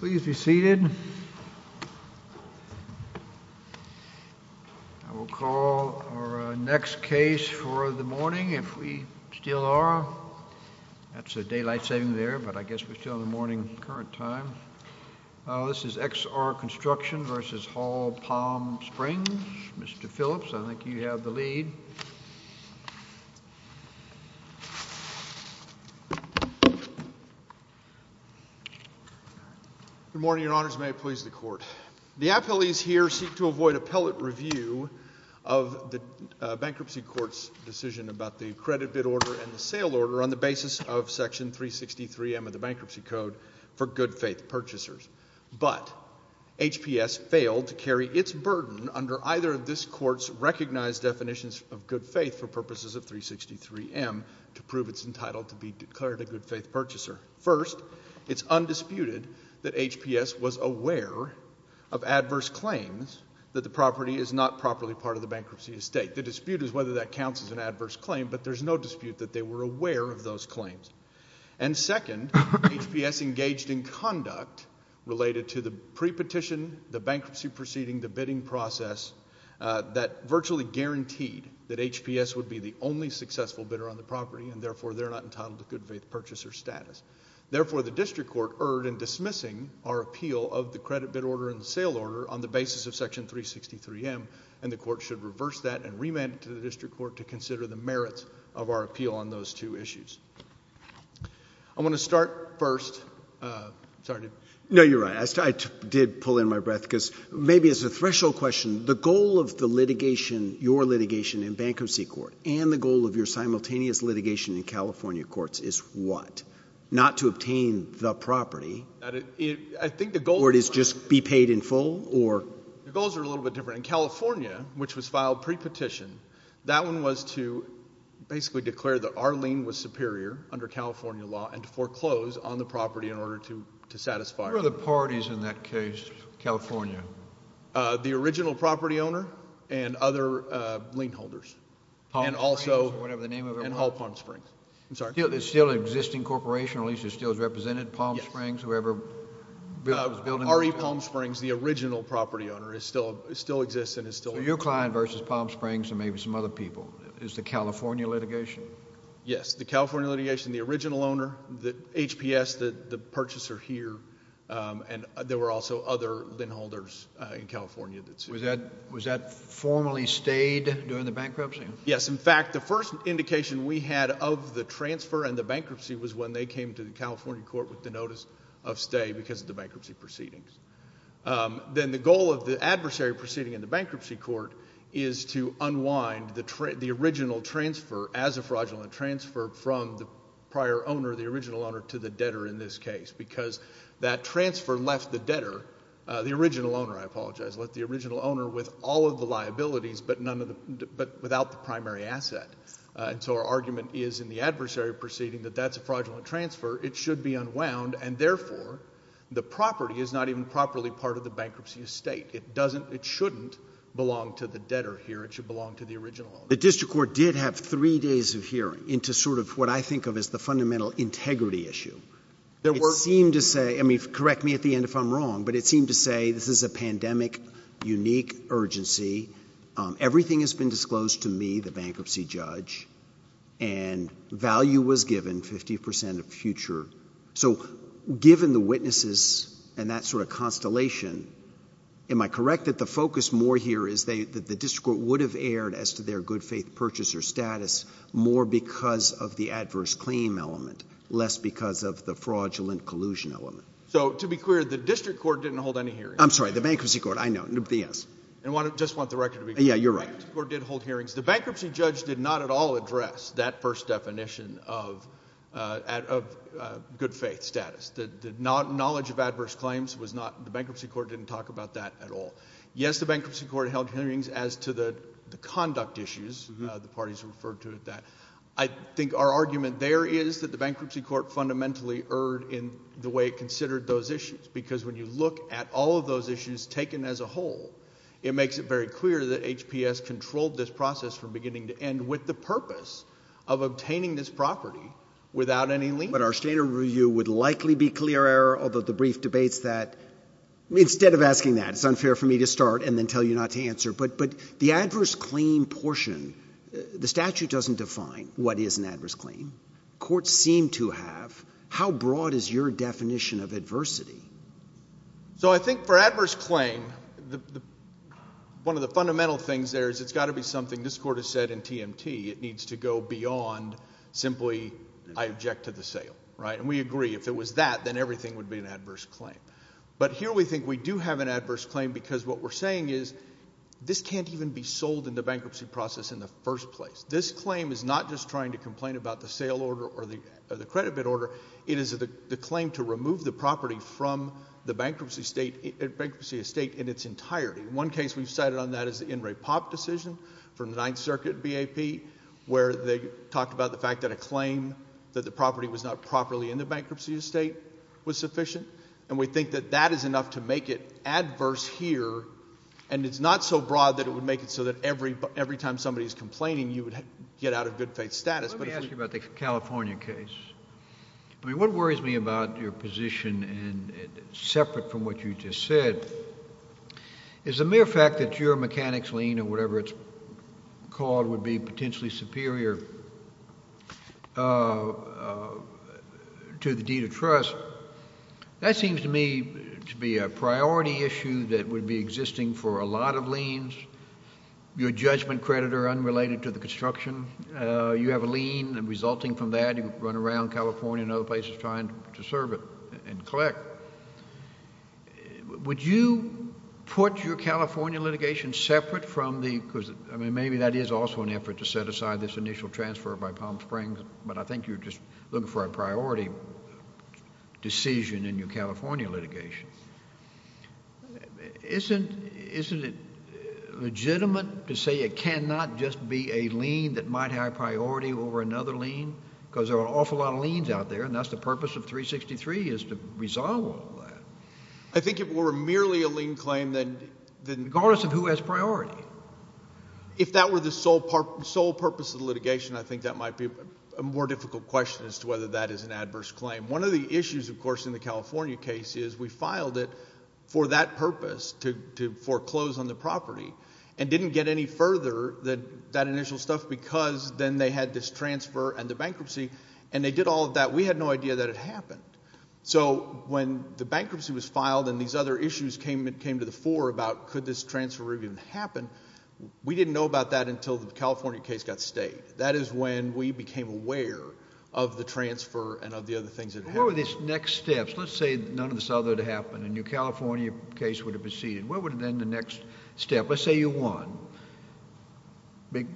Please be seated. I will call our next case for the morning, if we still are. That's a daylight saving there, but I guess we're still in the morning current time. This is XR Construction v. Hall Palm Springs. Mr. Phillips, I think you have the lead. Good morning, Your Honors. May it please the Court. The appellees here seek to avoid appellate review of the bankruptcy court's decision about the credit bid order and the sale order on the basis of Section 363M of the Bankruptcy Code for good-faith purchasers. But, HPS failed to carry its burden under either of this court's recognized definitions of good faith for purposes of 363M to prove it's entitled to be declared a good-faith purchaser. First, it's undisputed that HPS was aware of adverse claims that the property is not properly part of the bankruptcy estate. The dispute is whether that counts as an adverse claim, but there's no dispute that they were aware of those claims. And second, HPS engaged in conduct related to the pre-petition, the bankruptcy proceeding, the bidding process that virtually guaranteed that HPS would be the only successful bidder on the property, and therefore they're not entitled to good-faith purchaser status. Therefore, the district court erred in dismissing our appeal of the credit bid order and the sale order on the basis of Section 363M, and the court should reverse that and remand it to the district court to consider the merits of our appeal on those two issues. I'm going to start first. Sorry. No, you're right. I did pull in my breath because maybe as a threshold question, the goal of the litigation, your litigation in bankruptcy court, and the goal of your simultaneous litigation in California courts is what? Not to obtain the property? I think the goal is… Or it is just be paid in full? Your goals are a little bit different. In California, which was filed pre-petition, that one was to basically declare that our lien was superior under California law and to foreclose on the property in order to satisfy it. Who are the parties in that case, California? The original property owner and other lien holders. Palm Springs or whatever the name of it was? And Hall Palm Springs. I'm sorry. There's still an existing corporation, or at least it still is represented, Palm Springs, whoever was building it? RE Palm Springs, the original property owner, still exists and is still… So your client versus Palm Springs or maybe some other people is the California litigation? Yes, the California litigation, the original owner, the HPS, the purchaser here, and there were also other lien holders in California that sued. Was that formally stayed during the bankruptcy? Yes. In fact, the first indication we had of the transfer and the bankruptcy was when they came to the California court with the notice of stay because of the bankruptcy proceedings. Then the goal of the adversary proceeding in the bankruptcy court is to unwind the original transfer as a fraudulent transfer from the prior owner, the original owner, to the debtor in this case because that transfer left the debtor, the original owner, I apologize, left the original owner with all of the liabilities but without the primary asset. And so our argument is in the adversary proceeding that that's a fraudulent transfer. It should be unwound and therefore the property is not even properly part of the bankruptcy estate. It doesn't, it shouldn't belong to the debtor here. It should belong to the original owner. The district court did have three days of hearing into sort of what I think of as the fundamental integrity issue. There were… It seemed to say, I mean, correct me at the end if I'm wrong, but it seemed to say this is a pandemic unique urgency. Everything has been disclosed to me, the bankruptcy judge, and value was given, 50% of future. So given the witnesses and that sort of constellation, am I correct that the focus more here is that the district court would have erred as to their good faith purchaser status more because of the adverse claim element less because of the fraudulent collusion element? So to be clear, the district court didn't hold any hearings. I'm sorry, the bankruptcy court, I know. I just want the record to be clear. Yeah, you're right. The bankruptcy court did hold hearings. The bankruptcy judge did not at all address that first definition of good faith status. The knowledge of adverse claims was not, the bankruptcy court didn't talk about that at all. Yes, the bankruptcy court held hearings as to the conduct issues. The parties referred to it that. I think our argument there is that the bankruptcy court fundamentally erred in the way it considered those issues because when you look at all of those issues taken as a whole, it makes it very clear that HPS controlled this process from beginning to end with the purpose of obtaining this property without any lien. But our standard review would likely be clear error, although the brief debates that, instead of asking that, it's unfair for me to start and then tell you not to answer. But the adverse claim portion, the statute doesn't define what is an adverse claim. The court seemed to have. How broad is your definition of adversity? So I think for adverse claim, one of the fundamental things there is it's got to be something this court has said in TMT. It needs to go beyond simply I object to the sale. And we agree, if it was that, then everything would be an adverse claim. But here we think we do have an adverse claim because what we're saying is this can't even be sold in the bankruptcy process in the first place. This claim is not just trying to complain about the sale order or the credit bid order. It is the claim to remove the property from the bankruptcy estate in its entirety. One case we've cited on that is the In Re Pop decision from the Ninth Circuit BAP where they talked about the fact that a claim that the property was not properly in the bankruptcy estate was sufficient. And we think that that is enough to make it adverse here. And it's not so broad that it would make it so that every time somebody is complaining, you would get out of good faith status. Let me ask you about the California case. I mean what worries me about your position separate from what you just said is the mere fact that your mechanics lien or whatever it's called would be potentially superior to the deed of trust. That seems to me to be a priority issue that would be existing for a lot of liens. Your judgment credit are unrelated to the construction. You have a lien resulting from that. You run around California and other places trying to serve it and collect. Would you put your California litigation separate from the – because, I mean, maybe that is also an effort to set aside this initial transfer by Palm Springs. But I think you're just looking for a priority decision in your California litigation. Isn't it legitimate to say it cannot just be a lien that might have priority over another lien? Because there are an awful lot of liens out there, and that's the purpose of 363 is to resolve all that. I think if it were merely a lien claim, then – Regardless of who has priority. If that were the sole purpose of the litigation, I think that might be a more difficult question as to whether that is an adverse claim. One of the issues, of course, in the California case is we filed it for that purpose, to foreclose on the property, and didn't get any further than that initial stuff because then they had this transfer and the bankruptcy, and they did all of that. We had no idea that it happened. So when the bankruptcy was filed and these other issues came to the fore about could this transfer really even happen, we didn't know about that until the California case got stayed. That is when we became aware of the transfer and of the other things that had happened. What were these next steps? Let's say none of this other had happened and your California case would have proceeded. What would have been the next step? Let's say you won. Big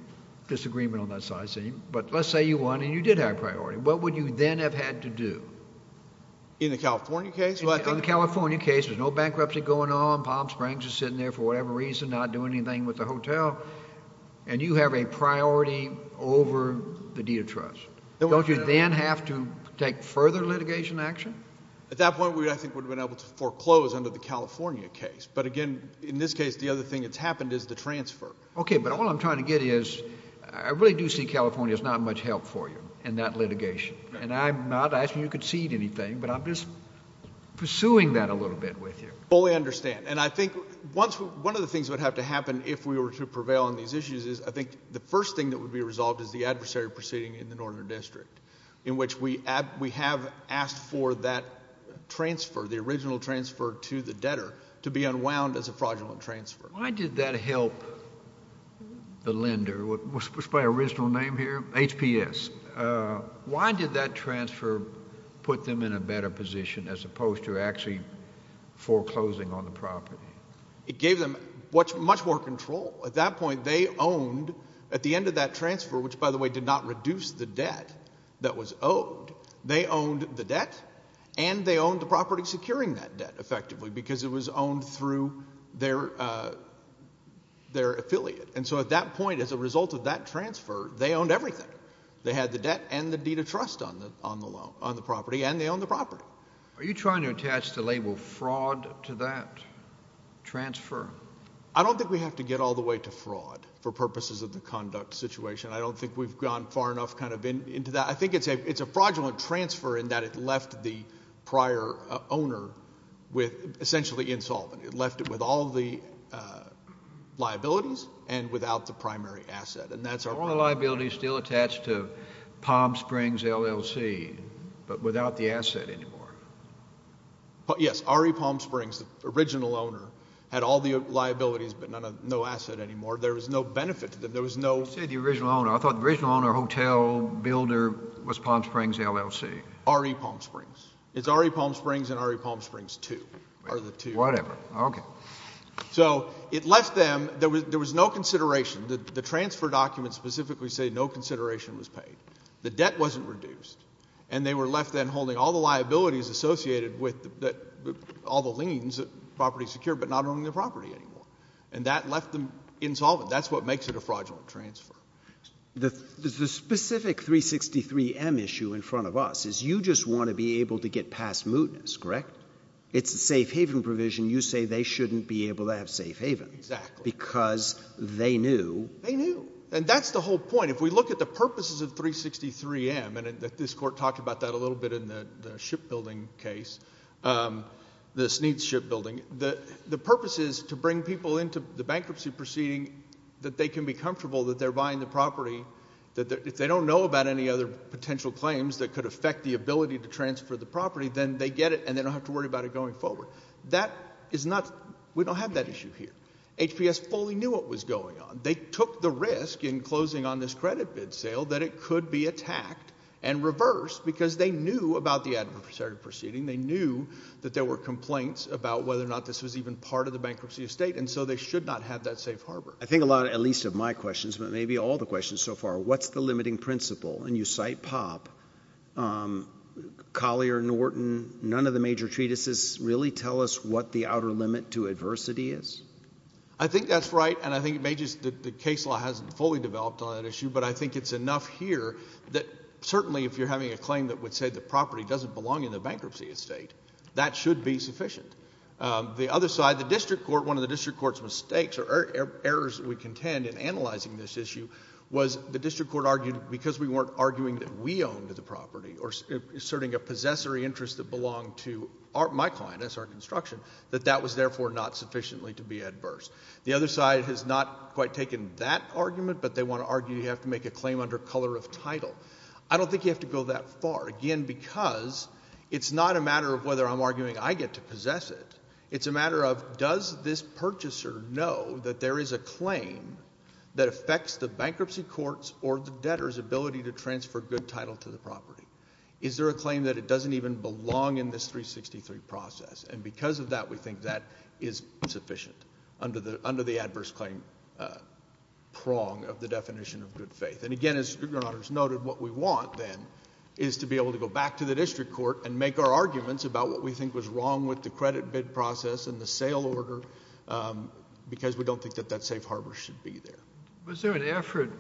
disagreement on that side, seeing. But let's say you won and you did have priority. What would you then have had to do? In the California case? In the California case, there's no bankruptcy going on, Palm Springs is sitting there for whatever reason, not doing anything with the hotel, and you have a priority over the deed of trust. Don't you then have to take further litigation action? At that point, we, I think, would have been able to foreclose under the California case. But again, in this case, the other thing that's happened is the transfer. Okay, but all I'm trying to get is I really do see California as not much help for you in that litigation. And I'm not asking you to concede anything, but I'm just pursuing that a little bit with you. I fully understand. And I think one of the things that would have to happen if we were to prevail on these issues is I think the first thing that would be resolved is the adversary proceeding in the Northern District, in which we have asked for that transfer, the original transfer to the debtor, to be unwound as a fraudulent transfer. Why did that help the lender, what's my original name here? HPS. Why did that transfer put them in a better position as opposed to actually foreclosing on the property? It gave them much more control. At that point, they owned, at the end of that transfer, which, by the way, did not reduce the debt that was owed, they owned the debt and they owned the property securing that debt, effectively, because it was owned through their affiliate. And so at that point, as a result of that transfer, they owned everything. They had the debt and the deed of trust on the property, and they owned the property. Are you trying to attach the label fraud to that transfer? I don't think we have to get all the way to fraud for purposes of the conduct situation. I don't think we've gone far enough kind of into that. I think it's a fraudulent transfer in that it left the prior owner essentially insolvent. It left it with all the liabilities and without the primary asset, and that's our problem. Are all the liabilities still attached to Palm Springs LLC but without the asset anymore? Yes. RE Palm Springs, the original owner, had all the liabilities but no asset anymore. There was no benefit to them. There was no— Was Palm Springs LLC? RE Palm Springs. It's RE Palm Springs and RE Palm Springs II are the two. Whatever. Okay. So it left them—there was no consideration. The transfer documents specifically say no consideration was paid. The debt wasn't reduced. And they were left then holding all the liabilities associated with all the liens, property secured, but not owning the property anymore. And that left them insolvent. That's what makes it a fraudulent transfer. The specific 363M issue in front of us is you just want to be able to get past mootness, correct? It's a safe haven provision. You say they shouldn't be able to have safe havens. Exactly. Because they knew. They knew. And that's the whole point. If we look at the purposes of 363M, and this Court talked about that a little bit in the shipbuilding case, the Sneeds Shipbuilding, the purpose is to bring people into the bankruptcy proceeding that they can be comfortable that they're buying the property. If they don't know about any other potential claims that could affect the ability to transfer the property, then they get it and they don't have to worry about it going forward. That is not—we don't have that issue here. HPS fully knew what was going on. They took the risk in closing on this credit bid sale that it could be attacked and reversed because they knew about the adversary proceeding. They knew that there were complaints about whether or not this was even part of the bankruptcy estate, and so they should not have that safe harbor. I think a lot, at least of my questions, but maybe all the questions so far, what's the limiting principle? And you cite Popp, Collier, Norton, none of the major treatises really tell us what the outer limit to adversity is. I think that's right, and I think it may just—the case law hasn't fully developed on that issue, but I think it's enough here that certainly if you're having a claim that would say the property doesn't belong in the bankruptcy estate, that should be sufficient. The other side, the district court, one of the district court's mistakes or errors we contend in analyzing this issue was the district court argued because we weren't arguing that we owned the property or asserting a possessory interest that belonged to my client as our construction, that that was therefore not sufficiently to be adverse. The other side has not quite taken that argument, but they want to argue you have to make a claim under color of title. I don't think you have to go that far, again, because it's not a matter of whether I'm arguing I get to possess it. It's a matter of does this purchaser know that there is a claim that affects the bankruptcy court's or the debtor's ability to transfer good title to the property? Is there a claim that it doesn't even belong in this 363 process? And because of that, we think that is sufficient under the adverse claim prong of the definition of good faith. And again, as Your Honor has noted, what we want then is to be able to go back to the district court and make our arguments about what we think was wrong with the credit bid process and the sale order because we don't think that that safe harbor should be there. Was there an effort,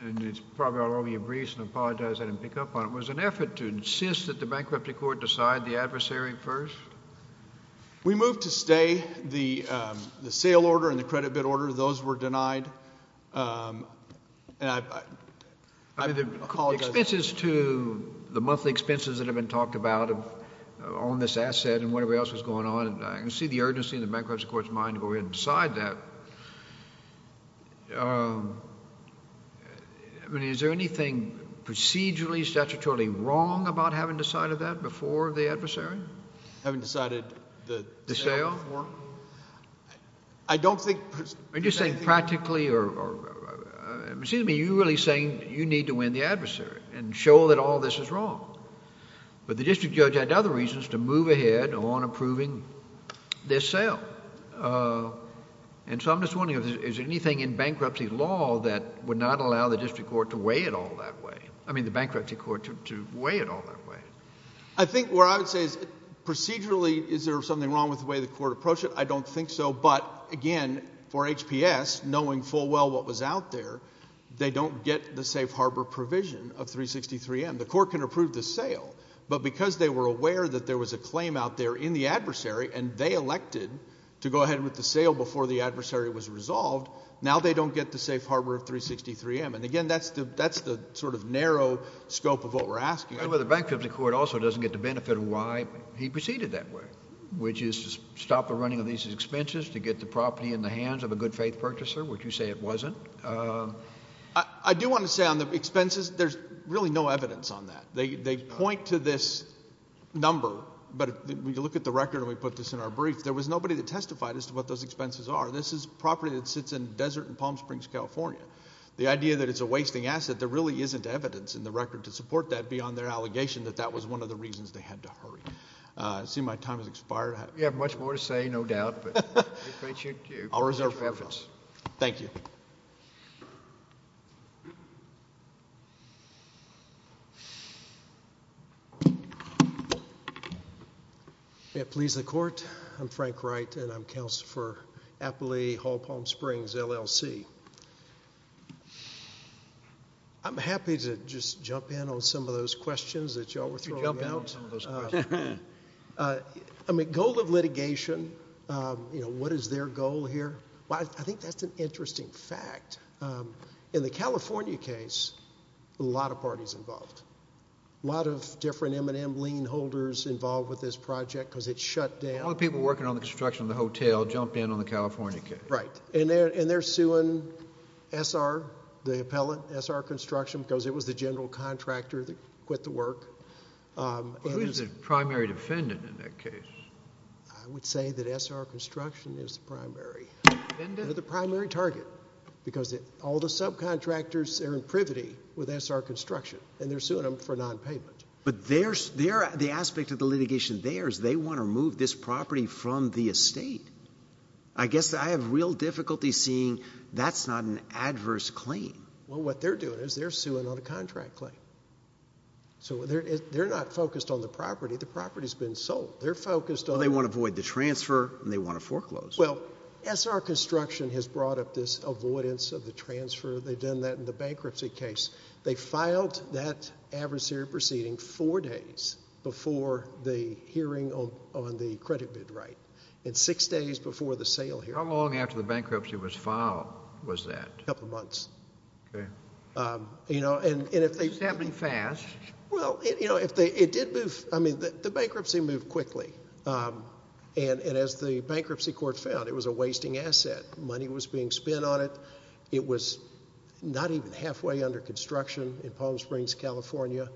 and it's probably all over your briefs, and I apologize I didn't pick up on it. Was there an effort to insist that the bankruptcy court decide the adversary first? We moved to stay the sale order and the credit bid order. Those were denied. And I apologize. The expenses to the monthly expenses that have been talked about on this asset and whatever else was going on, I can see the urgency in the bankruptcy court's mind to go ahead and decide that. Is there anything procedurally, statutorily wrong about having decided that before the adversary? Having decided the sale? The sale. I don't think... Are you saying practically or... excuse me, you're really saying you need to win the adversary and show that all this is wrong. But the district judge had other reasons to move ahead on approving this sale. And so I'm just wondering, is there anything in bankruptcy law that would not allow the district court to weigh it all that way? I mean the bankruptcy court to weigh it all that way. I think what I would say is procedurally, is there something wrong with the way the court approached it? I don't think so. But, again, for HPS, knowing full well what was out there, they don't get the safe harbor provision of 363M. The court can approve the sale. But because they were aware that there was a claim out there in the adversary and they elected to go ahead with the sale before the adversary was resolved, now they don't get the safe harbor of 363M. And, again, that's the sort of narrow scope of what we're asking. The bankruptcy court also doesn't get the benefit of why he proceeded that way, which is to stop the running of these expenses, to get the property in the hands of a good faith purchaser, which you say it wasn't. I do want to say on the expenses, there's really no evidence on that. They point to this number, but when you look at the record and we put this in our brief, there was nobody that testified as to what those expenses are. This is property that sits in desert in Palm Springs, California. The idea that it's a wasting asset, there really isn't evidence in the record to support that beyond their allegation that that was one of the reasons they had to hurry. I see my time has expired. You have much more to say, no doubt. I'll reserve my time. Thank you. May it please the Court. I'm Frank Wright, and I'm Counselor for Appley Hall, Palm Springs, LLC. I'm happy to just jump in on some of those questions that you all were throwing out. Goal of litigation, what is their goal here? I think that's an interesting fact. In the California case, a lot of parties involved. A lot of different M&M lean holders involved with this project because it shut down. A lot of people working on the construction of the hotel jumped in on the California case. Right. They're suing SR, the appellant, SR Construction, because it was the general contractor that quit the work. Who is the primary defendant in that case? I would say that SR Construction is the primary. They're the primary target because all the subcontractors are in privity with SR Construction, and they're suing them for nonpayment. But the aspect of the litigation there is they want to remove this property from the estate. I guess I have real difficulty seeing that's not an adverse claim. Well, what they're doing is they're suing on a contract claim. So they're not focused on the property. The property has been sold. They're focused on the property. Well, they want to avoid the transfer, and they want to foreclose. Well, SR Construction has brought up this avoidance of the transfer. They've done that in the bankruptcy case. They filed that adversary proceeding four days before the hearing on the credit bid right. And six days before the sale hearing. How long after the bankruptcy was filed was that? A couple months. Okay. You know, and if they— It's happening fast. Well, you know, if they—it did move—I mean, the bankruptcy moved quickly. And as the bankruptcy court found, it was a wasting asset. Money was being spent on it. It was not even halfway under construction in Palm Springs, California.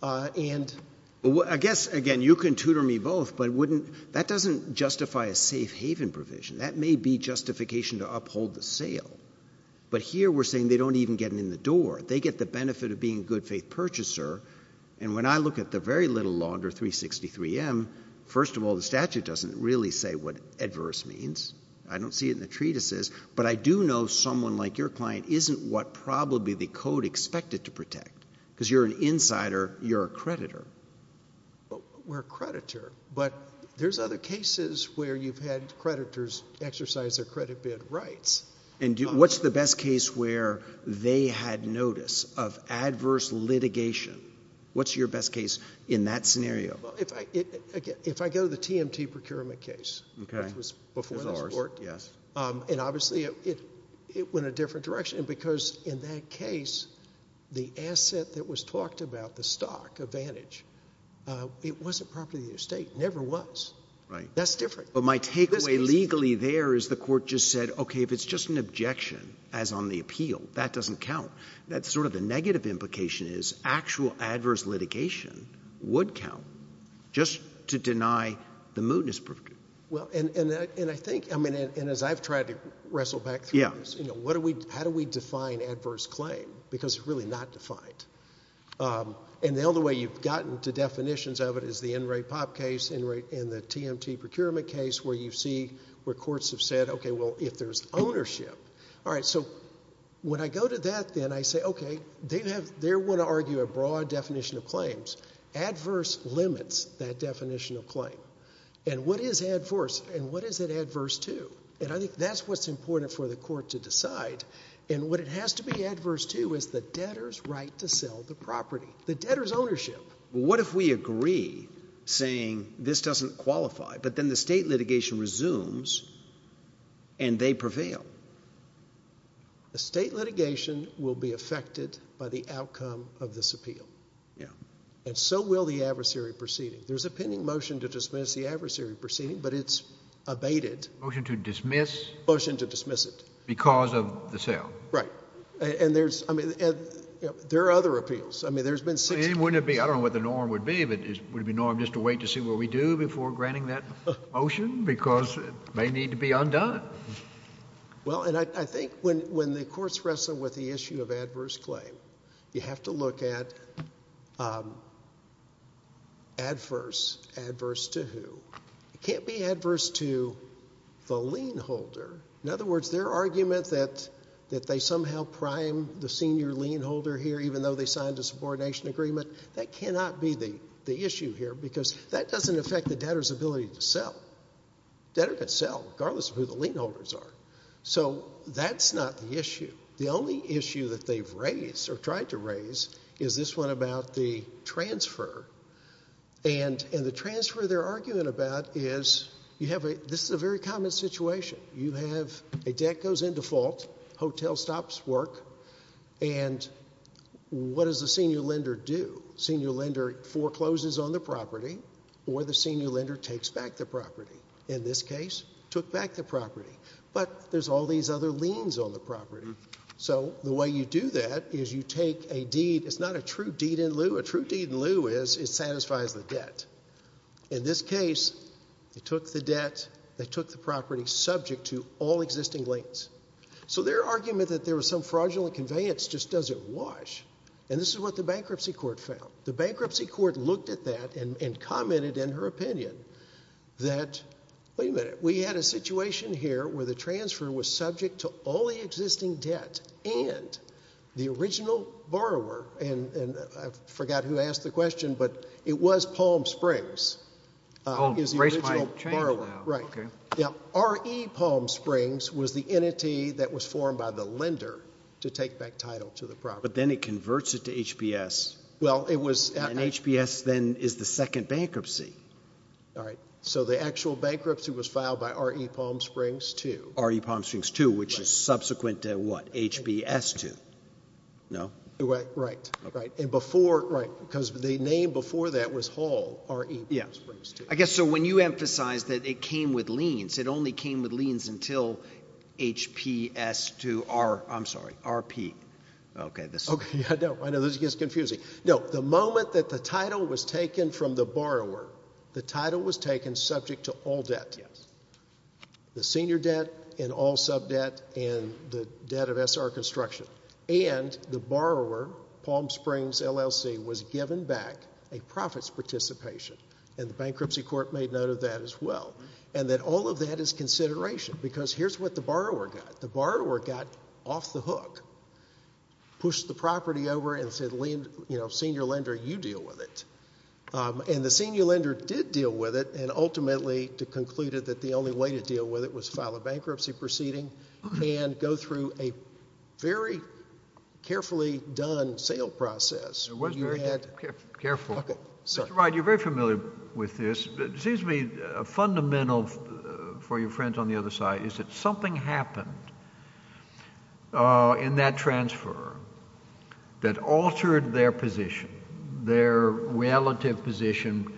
Well, I guess, again, you can tutor me both, but that doesn't justify a safe haven provision. That may be justification to uphold the sale. But here we're saying they don't even get in the door. They get the benefit of being a good faith purchaser. And when I look at the very little law under 363M, first of all, the statute doesn't really say what adverse means. I don't see it in the treatises. But I do know someone like your client isn't what probably the code expected to protect because you're an insider, you're a creditor. We're a creditor. But there's other cases where you've had creditors exercise their credit bid rights. And what's the best case where they had notice of adverse litigation? What's your best case in that scenario? Well, if I go to the TMT procurement case, which was before ours. And obviously it went a different direction because in that case the asset that was talked about, the stock advantage, it wasn't property of the estate. It never was. That's different. But my takeaway legally there is the court just said, okay, if it's just an objection as on the appeal, that doesn't count. That's sort of the negative implication is actual adverse litigation would count just to deny the mootness. And as I've tried to wrestle back through this, how do we define adverse claim? Because it's really not defined. And the only way you've gotten to definitions of it is the NRAPOP case and the TMT procurement case where you see where courts have said, okay, well, if there's ownership. So when I go to that then I say, okay, they want to argue a broad definition of claims. Adverse limits that definition of claim. And what is adverse and what is it adverse to? And I think that's what's important for the court to decide. And what it has to be adverse to is the debtor's right to sell the property, the debtor's ownership. What if we agree saying this doesn't qualify, but then the state litigation resumes and they prevail? The state litigation will be affected by the outcome of this appeal. And so will the adversary proceeding. There's a pending motion to dismiss the adversary proceeding, but it's abated. Motion to dismiss? Motion to dismiss it. Because of the sale. Right. And there's, I mean, there are other appeals. I mean, there's been six. I mean, wouldn't it be, I don't know what the norm would be, but would it be normal just to wait to see what we do before granting that motion? Because it may need to be undone. Well, and I think when the courts wrestle with the issue of adverse claim, you have to look at adverse. Adverse to who? It can't be adverse to the lien holder. In other words, their argument that they somehow prime the senior lien holder here, even though they signed a subordination agreement, that cannot be the issue here because that doesn't affect the debtor's ability to sell. Debtor can sell regardless of who the lien holders are. So that's not the issue. The only issue that they've raised or tried to raise is this one about the transfer. And the transfer they're arguing about is you have a, this is a very common situation. You have a debt goes into fault, hotel stops work, and what does the senior lender do? Senior lender forecloses on the property or the senior lender takes back the property. In this case, took back the property. But there's all these other liens on the property. So the way you do that is you take a deed. It's not a true deed in lieu. A true deed in lieu is it satisfies the debt. In this case, they took the debt, they took the property subject to all existing liens. So their argument that there was some fraudulent conveyance just doesn't wash. And this is what the bankruptcy court found. The bankruptcy court looked at that and commented in her opinion that, wait a minute, we had a situation here where the transfer was subject to all the existing debt and the original borrower, and I forgot who asked the question, but it was Palm Springs. It was the original borrower. Right. Now, RE Palm Springs was the entity that was formed by the lender to take back title to the property. But then it converts it to HBS. And HBS then is the second bankruptcy. All right. So the actual bankruptcy was filed by RE Palm Springs II. RE Palm Springs II, which is subsequent to what, HBS II. No? Right. Right. And before, right, because the name before that was Hall, RE Palm Springs II. I guess so when you emphasize that it came with liens, it only came with liens until HPS II, I'm sorry, RP. Okay. I know this gets confusing. No, the moment that the title was taken from the borrower, the title was taken subject to all debt. Yes. The senior debt and all sub-debt and the debt of SR construction. And the borrower, Palm Springs LLC, was given back a profits participation. And the bankruptcy court made note of that as well. And that all of that is consideration because here's what the borrower got. The borrower got off the hook, pushed the property over and said, you know, senior lender, you deal with it. And the senior lender did deal with it and ultimately concluded that the only way to deal with it was file a bankruptcy proceeding and go through a very carefully done sale process. It was very careful. Okay. Mr. Wright, you're very familiar with this. It seems to me fundamental for your friends on the other side is that something happened in that transfer that altered their position, their relative position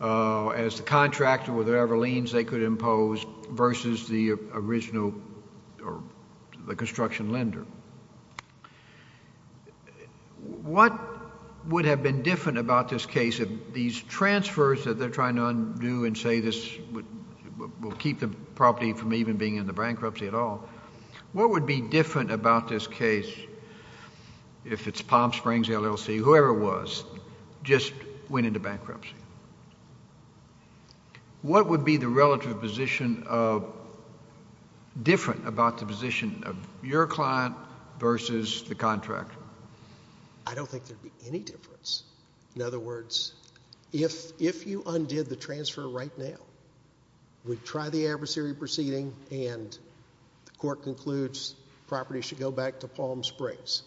as the contractor with their ever liens they could impose versus the original or the construction lender. What would have been different about this case if these transfers that they're trying to undo and say this will keep the property from even being in the bankruptcy at all, what would be different about this case if it's Palm Springs LLC, whoever it was, just went into bankruptcy? What would be the relative position different about the position of your client versus the contractor? I don't think there would be any difference. In other words, if you undid the transfer right now, we'd try the adversary proceeding and the court concludes the property should go back to Palm Springs.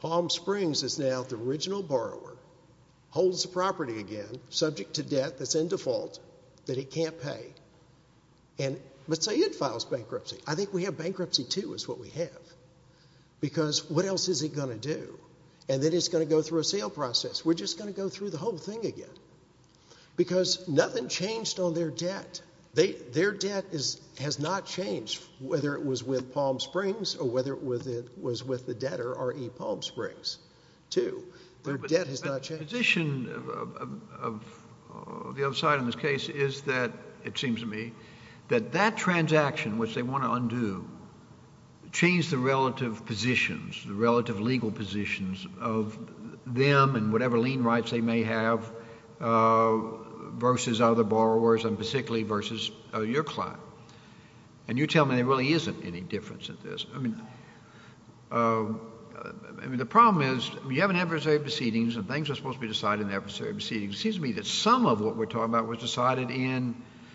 Palm Springs is now the original borrower, holds the property again, subject to debt that's in default that it can't pay. But say it files bankruptcy. I think we have bankruptcy too is what we have because what else is it going to do? And then it's going to go through a sale process. We're just going to go through the whole thing again because nothing changed on their debt. Their debt has not changed whether it was with Palm Springs or whether it was with the debtor, i.e., Palm Springs, too. Their debt has not changed. But the position of the other side in this case is that, it seems to me, that that transaction which they want to undo changed the relative positions, the relative legal positions of them and whatever lien rights they may have versus other borrowers and basically versus your client. And you tell me there really isn't any difference in this. I mean, the problem is you have an adversary proceedings and things are supposed to be decided in the adversary proceedings. It seems to me that some of what we're talking about was decided in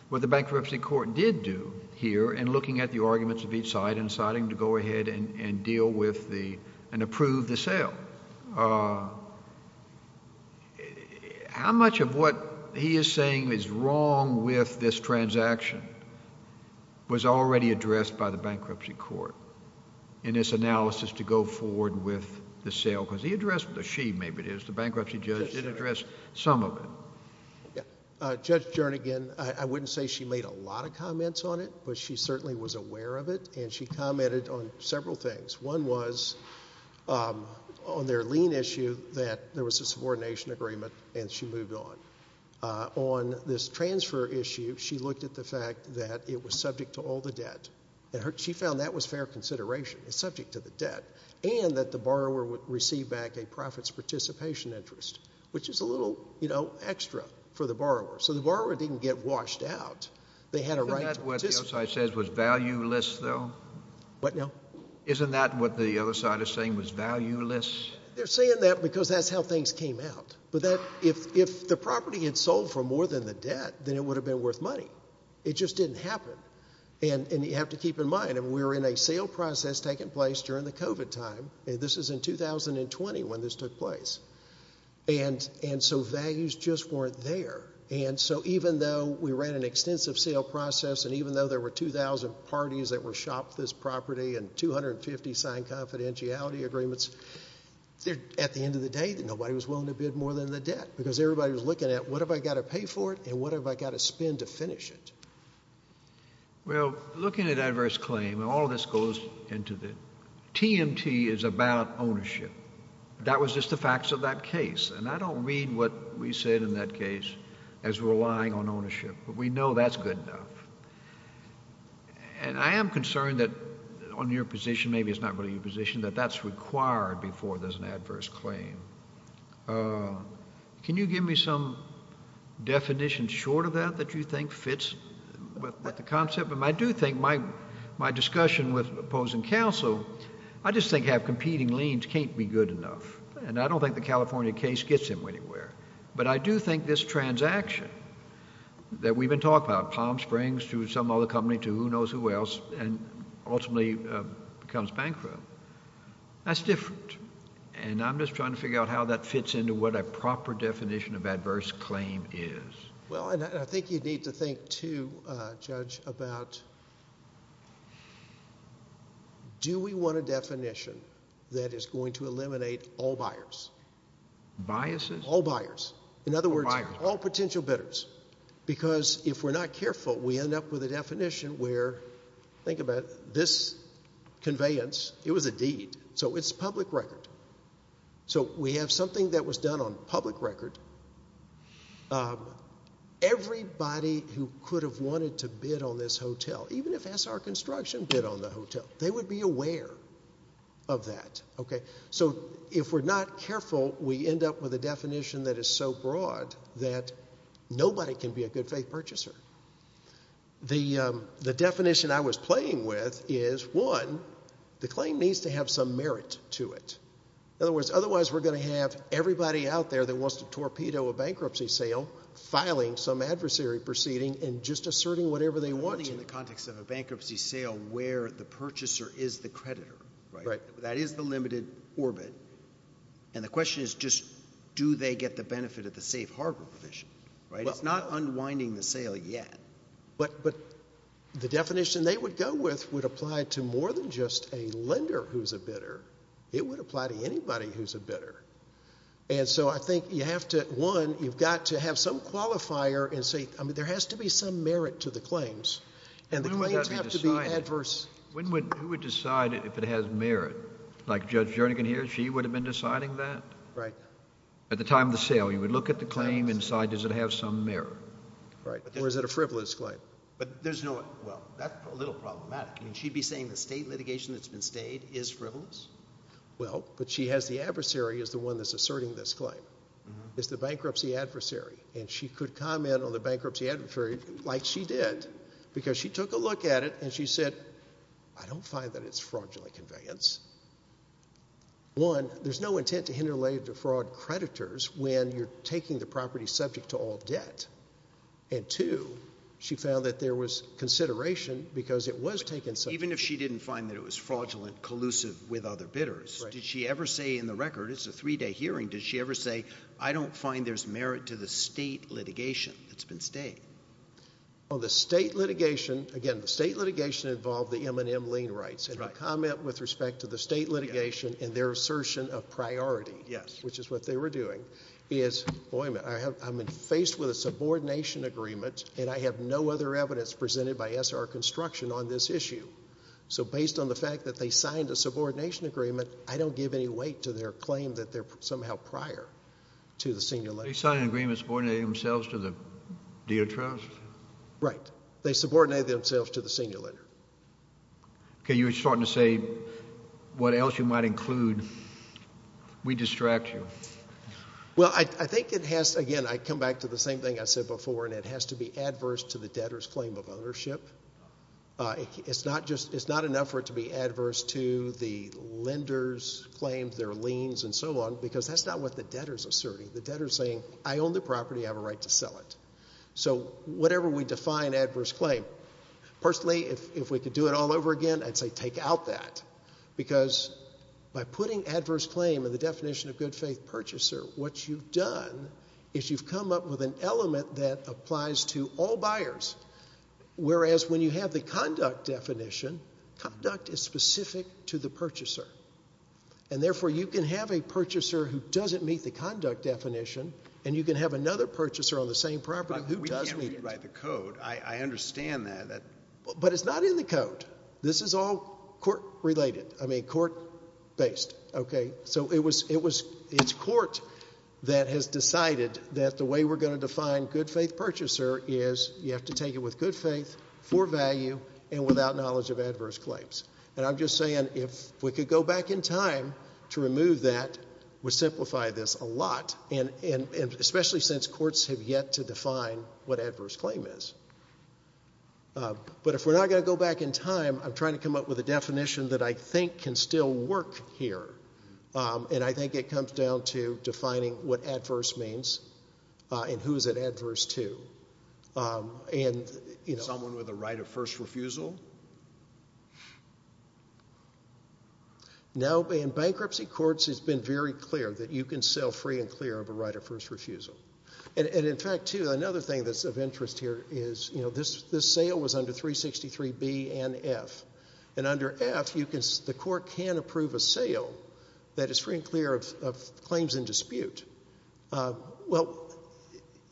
what the bankruptcy court did do here in looking at the arguments of each side and deciding to go ahead and deal with the—and approve the sale. But how much of what he is saying is wrong with this transaction was already addressed by the bankruptcy court in this analysis to go forward with the sale? Because he addressed—or she, maybe it is. The bankruptcy judge did address some of it. Judge Jernigan, I wouldn't say she made a lot of comments on it, but she certainly was aware of it, and she commented on several things. One was on their lien issue that there was a subordination agreement, and she moved on. On this transfer issue, she looked at the fact that it was subject to all the debt. And she found that was fair consideration. It's subject to the debt. And that the borrower would receive back a profit's participation interest, which is a little extra for the borrower. So the borrower didn't get washed out. They had a right to participate. Isn't that what the other side says was valueless, though? What now? Isn't that what the other side is saying was valueless? They're saying that because that's how things came out. But if the property had sold for more than the debt, then it would have been worth money. It just didn't happen. And you have to keep in mind, we're in a sale process taking place during the COVID time. This is in 2020 when this took place. And so values just weren't there. And so even though we ran an extensive sale process, and even though there were 2,000 parties that were shopped this property and 250 signed confidentiality agreements, at the end of the day, nobody was willing to bid more than the debt because everybody was looking at what have I got to pay for it and what have I got to spend to finish it. Well, looking at adverse claim, and all of this goes into the TMT is about ownership. That was just the facts of that case. And I don't read what we said in that case as relying on ownership. But we know that's good enough. And I am concerned that on your position, maybe it's not really your position, that that's required before there's an adverse claim. Can you give me some definition short of that that you think fits with the concept? But I do think my discussion with opposing counsel, I just think have competing liens can't be good enough. And I don't think the California case gets him anywhere. But I do think this transaction that we've been talking about, Palm Springs to some other company to who knows who else, and ultimately becomes bankrupt, that's different. And I'm just trying to figure out how that fits into what a proper definition of adverse claim is. Well, and I think you need to think too, Judge, about do we want a definition that is going to eliminate all buyers? Biases? All buyers. In other words, all potential bidders. Because if we're not careful, we end up with a definition where, think about it, this conveyance, it was a deed. So it's public record. So we have something that was done on public record. Everybody who could have wanted to bid on this hotel, even if SR Construction bid on the hotel, they would be aware of that. Okay. So if we're not careful, we end up with a definition that is so broad that nobody can be a good faith purchaser. The definition I was playing with is, one, the claim needs to have some merit to it. In other words, otherwise we're going to have everybody out there that wants to torpedo a bankruptcy sale filing some adversary proceeding and just asserting whatever they want to. It's unwinding in the context of a bankruptcy sale where the purchaser is the creditor, right? That is the limited orbit. And the question is just do they get the benefit of the safe harbor provision, right? It's not unwinding the sale yet. But the definition they would go with would apply to more than just a lender who's a bidder. It would apply to anybody who's a bidder. And so I think you have to, one, you've got to have some qualifier and say there has to be some merit to the claims. And the claims have to be adverse. Who would decide if it has merit? Like Judge Jernigan here, she would have been deciding that? Right. At the time of the sale, you would look at the claim and decide does it have some merit? Right. Or is it a frivolous claim? Well, that's a little problematic. I mean, she'd be saying the state litigation that's been stayed is frivolous? Well, but she has the adversary as the one that's asserting this claim. It's the bankruptcy adversary. And she could comment on the bankruptcy adversary like she did because she took a look at it and she said, I don't find that it's fraudulent conveyance. One, there's no intent to interlay the fraud creditors when you're taking the property subject to all debt. And two, she found that there was consideration because it was taken subject to all debt. Did she ever say in the record? It's a three-day hearing. Did she ever say, I don't find there's merit to the state litigation that's been stayed? Well, the state litigation, again, the state litigation involved the M&M lien rights. And her comment with respect to the state litigation and their assertion of priority, which is what they were doing, is, boy, I'm faced with a subordination agreement, and I have no other evidence presented by SR Construction on this issue. So based on the fact that they signed a subordination agreement, I don't give any weight to their claim that they're somehow prior to the senior lender. They signed an agreement and subordinated themselves to the dealer trust? Right. They subordinated themselves to the senior lender. Okay. You were starting to say what else you might include. We distract you. Well, I think it has, again, I come back to the same thing I said before, and it has to be adverse to the debtor's claim of ownership. It's not enough for it to be adverse to the lender's claims, their liens, and so on, because that's not what the debtor is asserting. The debtor is saying, I own the property. I have a right to sell it. So whatever we define adverse claim, personally, if we could do it all over again, I'd say take out that, because by putting adverse claim in the definition of good faith purchaser, what you've done is you've come up with an element that applies to all buyers, whereas when you have the conduct definition, conduct is specific to the purchaser. And, therefore, you can have a purchaser who doesn't meet the conduct definition, and you can have another purchaser on the same property who does meet it. But we can't read and write the code. I understand that. But it's not in the code. This is all court-related, I mean, court-based. Okay? So it's court that has decided that the way we're going to define good faith purchaser is you have to take it with good faith, for value, and without knowledge of adverse claims. And I'm just saying if we could go back in time to remove that, it would simplify this a lot, especially since courts have yet to define what adverse claim is. But if we're not going to go back in time, I'm trying to come up with a definition that I think can still work here, and I think it comes down to defining what adverse means and who is it adverse to. Someone with a right of first refusal? Now, in bankruptcy courts, it's been very clear that you can sell free and clear of a right of first refusal. And, in fact, too, another thing that's of interest here is, you know, this sale was under 363B and F. And under F, the court can approve a sale that is free and clear of claims in dispute. Well,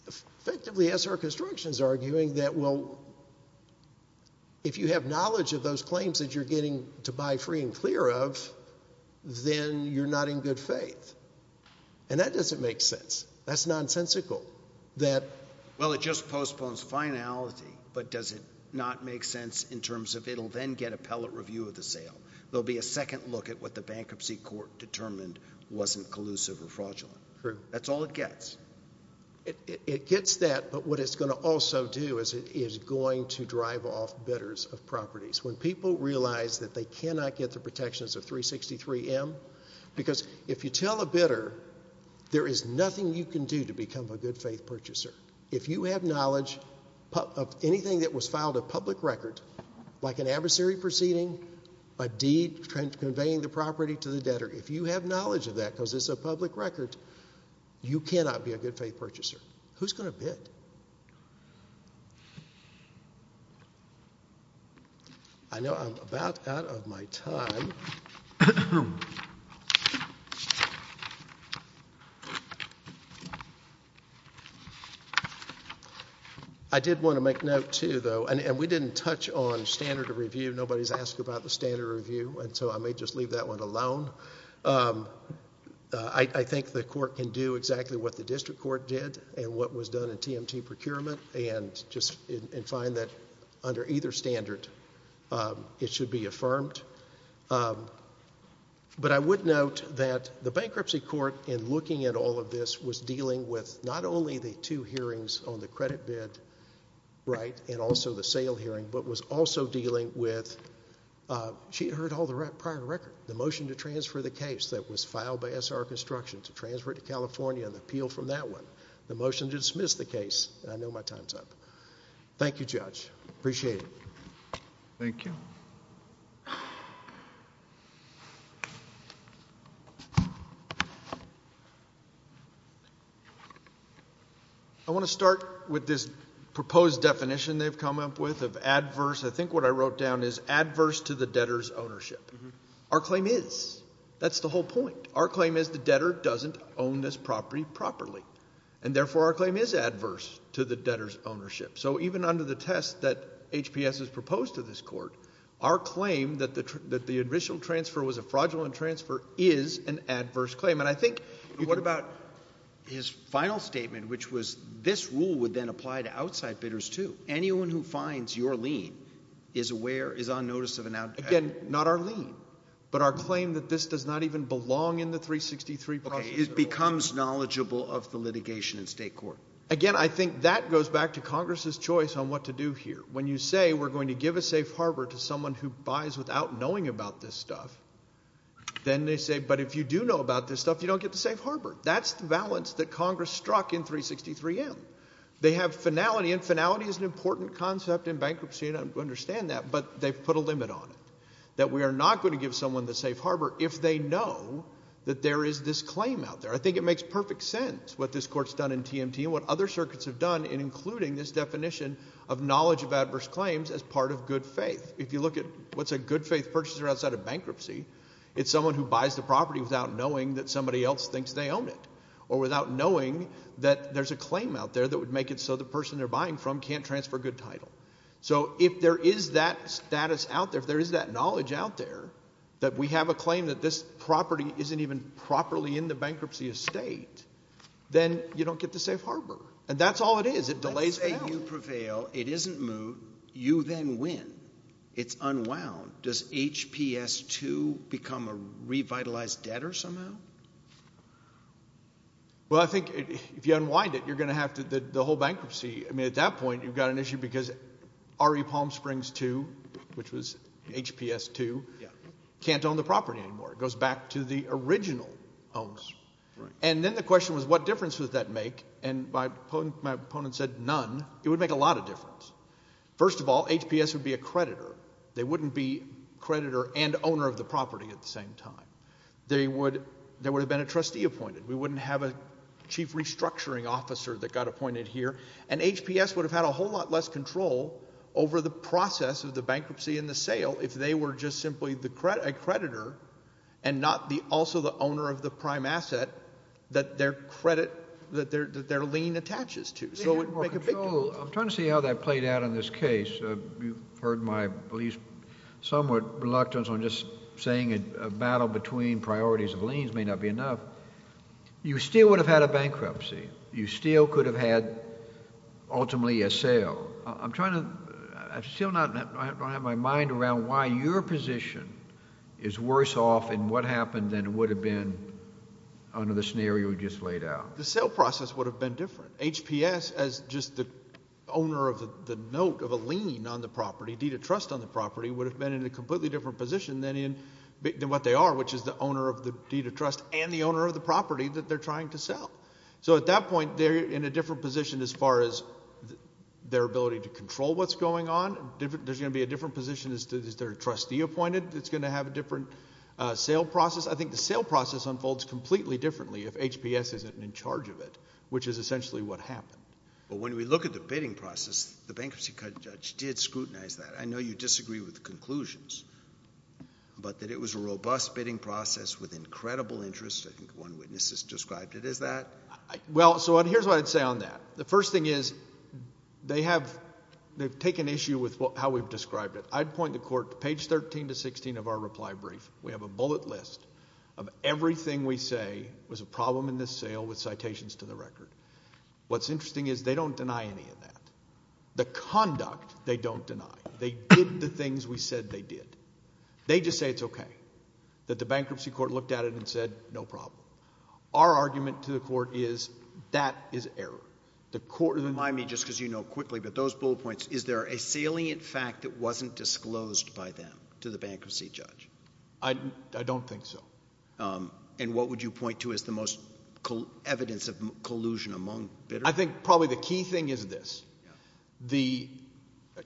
effectively, SR Construction is arguing that, well, if you have knowledge of those claims that you're getting to buy free and clear of, then you're not in good faith. And that doesn't make sense. That's nonsensical that, well, it just postpones finality, but does it not make sense in terms of it'll then get appellate review of the sale? There'll be a second look at what the bankruptcy court determined wasn't collusive or fraudulent. That's all it gets. It gets that, but what it's going to also do is it is going to drive off bidders of properties. When people realize that they cannot get the protections of 363M, because if you tell a bidder there is nothing you can do to become a good faith purchaser, if you have knowledge of anything that was filed a public record, like an adversary proceeding, a deed conveying the property to the debtor, if you have knowledge of that because it's a public record, you cannot be a good faith purchaser. Who's going to bid? Who's going to bid? I know I'm about out of my time. I did want to make note, too, though, and we didn't touch on standard of review. Nobody's asked about the standard of review, and so I may just leave that one alone. I think the court can do exactly what the district court did and what was done in TMT procurement and find that under either standard it should be affirmed. But I would note that the bankruptcy court, in looking at all of this, was dealing with not only the two hearings on the credit bid and also the sale hearing, but was also dealing with, she had heard all the prior record, the motion to transfer the case that was filed by SR Construction to transfer it to California and appeal from that one, the motion to dismiss the case. I know my time's up. Thank you, Judge. Appreciate it. Thank you. I want to start with this proposed definition they've come up with of adverse. I think what I wrote down is adverse to the debtor's ownership. Our claim is. That's the whole point. Our claim is the debtor doesn't own this property properly, So even under the test that HPS has proposed to this court, our claim that the initial transfer was a fraudulent transfer is an adverse claim. And I think. What about his final statement, which was this rule would then apply to outside bidders too. Anyone who finds your lien is aware, is on notice of an out. Again, not our lien, but our claim that this does not even belong in the 363 process. It becomes knowledgeable of the litigation in state court. Again, I think that goes back to Congress's choice on what to do here. When you say we're going to give a safe harbor to someone who buys without knowing about this stuff, then they say, but if you do know about this stuff, you don't get the safe harbor. That's the balance that Congress struck in 363M. They have finality, and finality is an important concept in bankruptcy, and I understand that. But they've put a limit on it. That we are not going to give someone the safe harbor if they know that there is this claim out there. I think it makes perfect sense what this court's done in TMT and what other circuits have done in including this definition of knowledge of adverse claims as part of good faith. If you look at what's a good faith purchaser outside of bankruptcy, it's someone who buys the property without knowing that somebody else thinks they own it or without knowing that there's a claim out there that would make it so the person they're buying from can't transfer good title. So if there is that status out there, if there is that knowledge out there, that we have a claim that this property isn't even properly in the bankruptcy estate, then you don't get the safe harbor, and that's all it is. It delays fail. Let's say you prevail. It isn't moved. You then win. It's unwound. Does HPS 2 become a revitalized debtor somehow? Well, I think if you unwind it, you're going to have to do the whole bankruptcy. I mean, at that point you've got an issue because RE Palm Springs 2, which was HPS 2, can't own the property anymore. It goes back to the original owns. And then the question was what difference would that make, and my opponent said none. It would make a lot of difference. First of all, HPS would be a creditor. They wouldn't be creditor and owner of the property at the same time. There would have been a trustee appointed. We wouldn't have a chief restructuring officer that got appointed here. And HPS would have had a whole lot less control over the process of the bankruptcy and the sale if they were just simply a creditor and not also the owner of the prime asset that their lien attaches to. So it would make a big difference. I'm trying to see how that played out in this case. You've heard my, at least somewhat, reluctance on just saying a battle between priorities of liens may not be enough. You still would have had a bankruptcy. You still could have had ultimately a sale. I'm trying to—I still don't have my mind around why your position is worse off in what happened than it would have been under the scenario you just laid out. The sale process would have been different. HPS, as just the owner of the note of a lien on the property, deed of trust on the property, would have been in a completely different position than what they are, which is the owner of the deed of trust and the owner of the property that they're trying to sell. So at that point they're in a different position as far as their ability to control what's going on. There's going to be a different position as to is there a trustee appointed that's going to have a different sale process. I think the sale process unfolds completely differently if HPS isn't in charge of it, which is essentially what happened. But when we look at the bidding process, the bankruptcy judge did scrutinize that. I know you disagree with the conclusions, but that it was a robust bidding process with incredible interest. I think one witness has described it as that. Well, so here's what I'd say on that. The first thing is they have taken issue with how we've described it. I'd point the court to page 13 to 16 of our reply brief. We have a bullet list of everything we say was a problem in this sale with citations to the record. What's interesting is they don't deny any of that. The conduct they don't deny. They did the things we said they did. They just say it's okay, that the bankruptcy court looked at it and said no problem. Our argument to the court is that is error. Remind me, just because you know quickly, but those bullet points, is there a salient fact that wasn't disclosed by them to the bankruptcy judge? I don't think so. And what would you point to as the most evidence of collusion among bidders? I think probably the key thing is this. The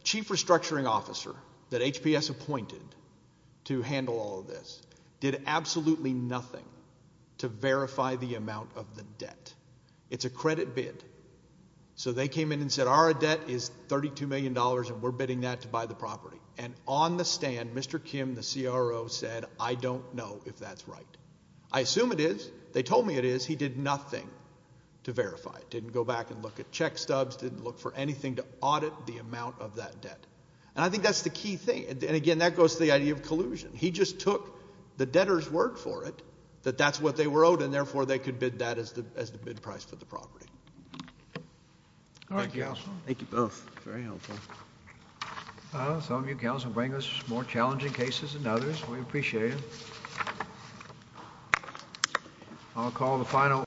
chief restructuring officer that HPS appointed to handle all of this did absolutely nothing to verify the amount of the debt. It's a credit bid. So they came in and said our debt is $32 million, and we're bidding that to buy the property. And on the stand, Mr. Kim, the CRO, said I don't know if that's right. I assume it is. They told me it is. He did nothing to verify it, didn't go back and look at check stubs, didn't look for anything to audit the amount of that debt. And I think that's the key thing. And, again, that goes to the idea of collusion. He just took the debtor's word for it that that's what they were owed, and, therefore, they could bid that as the bid price for the property. All right, counsel. Thank you both. Very helpful. Some of you, counsel, bring us more challenging cases than others. We appreciate it. I'll call the final.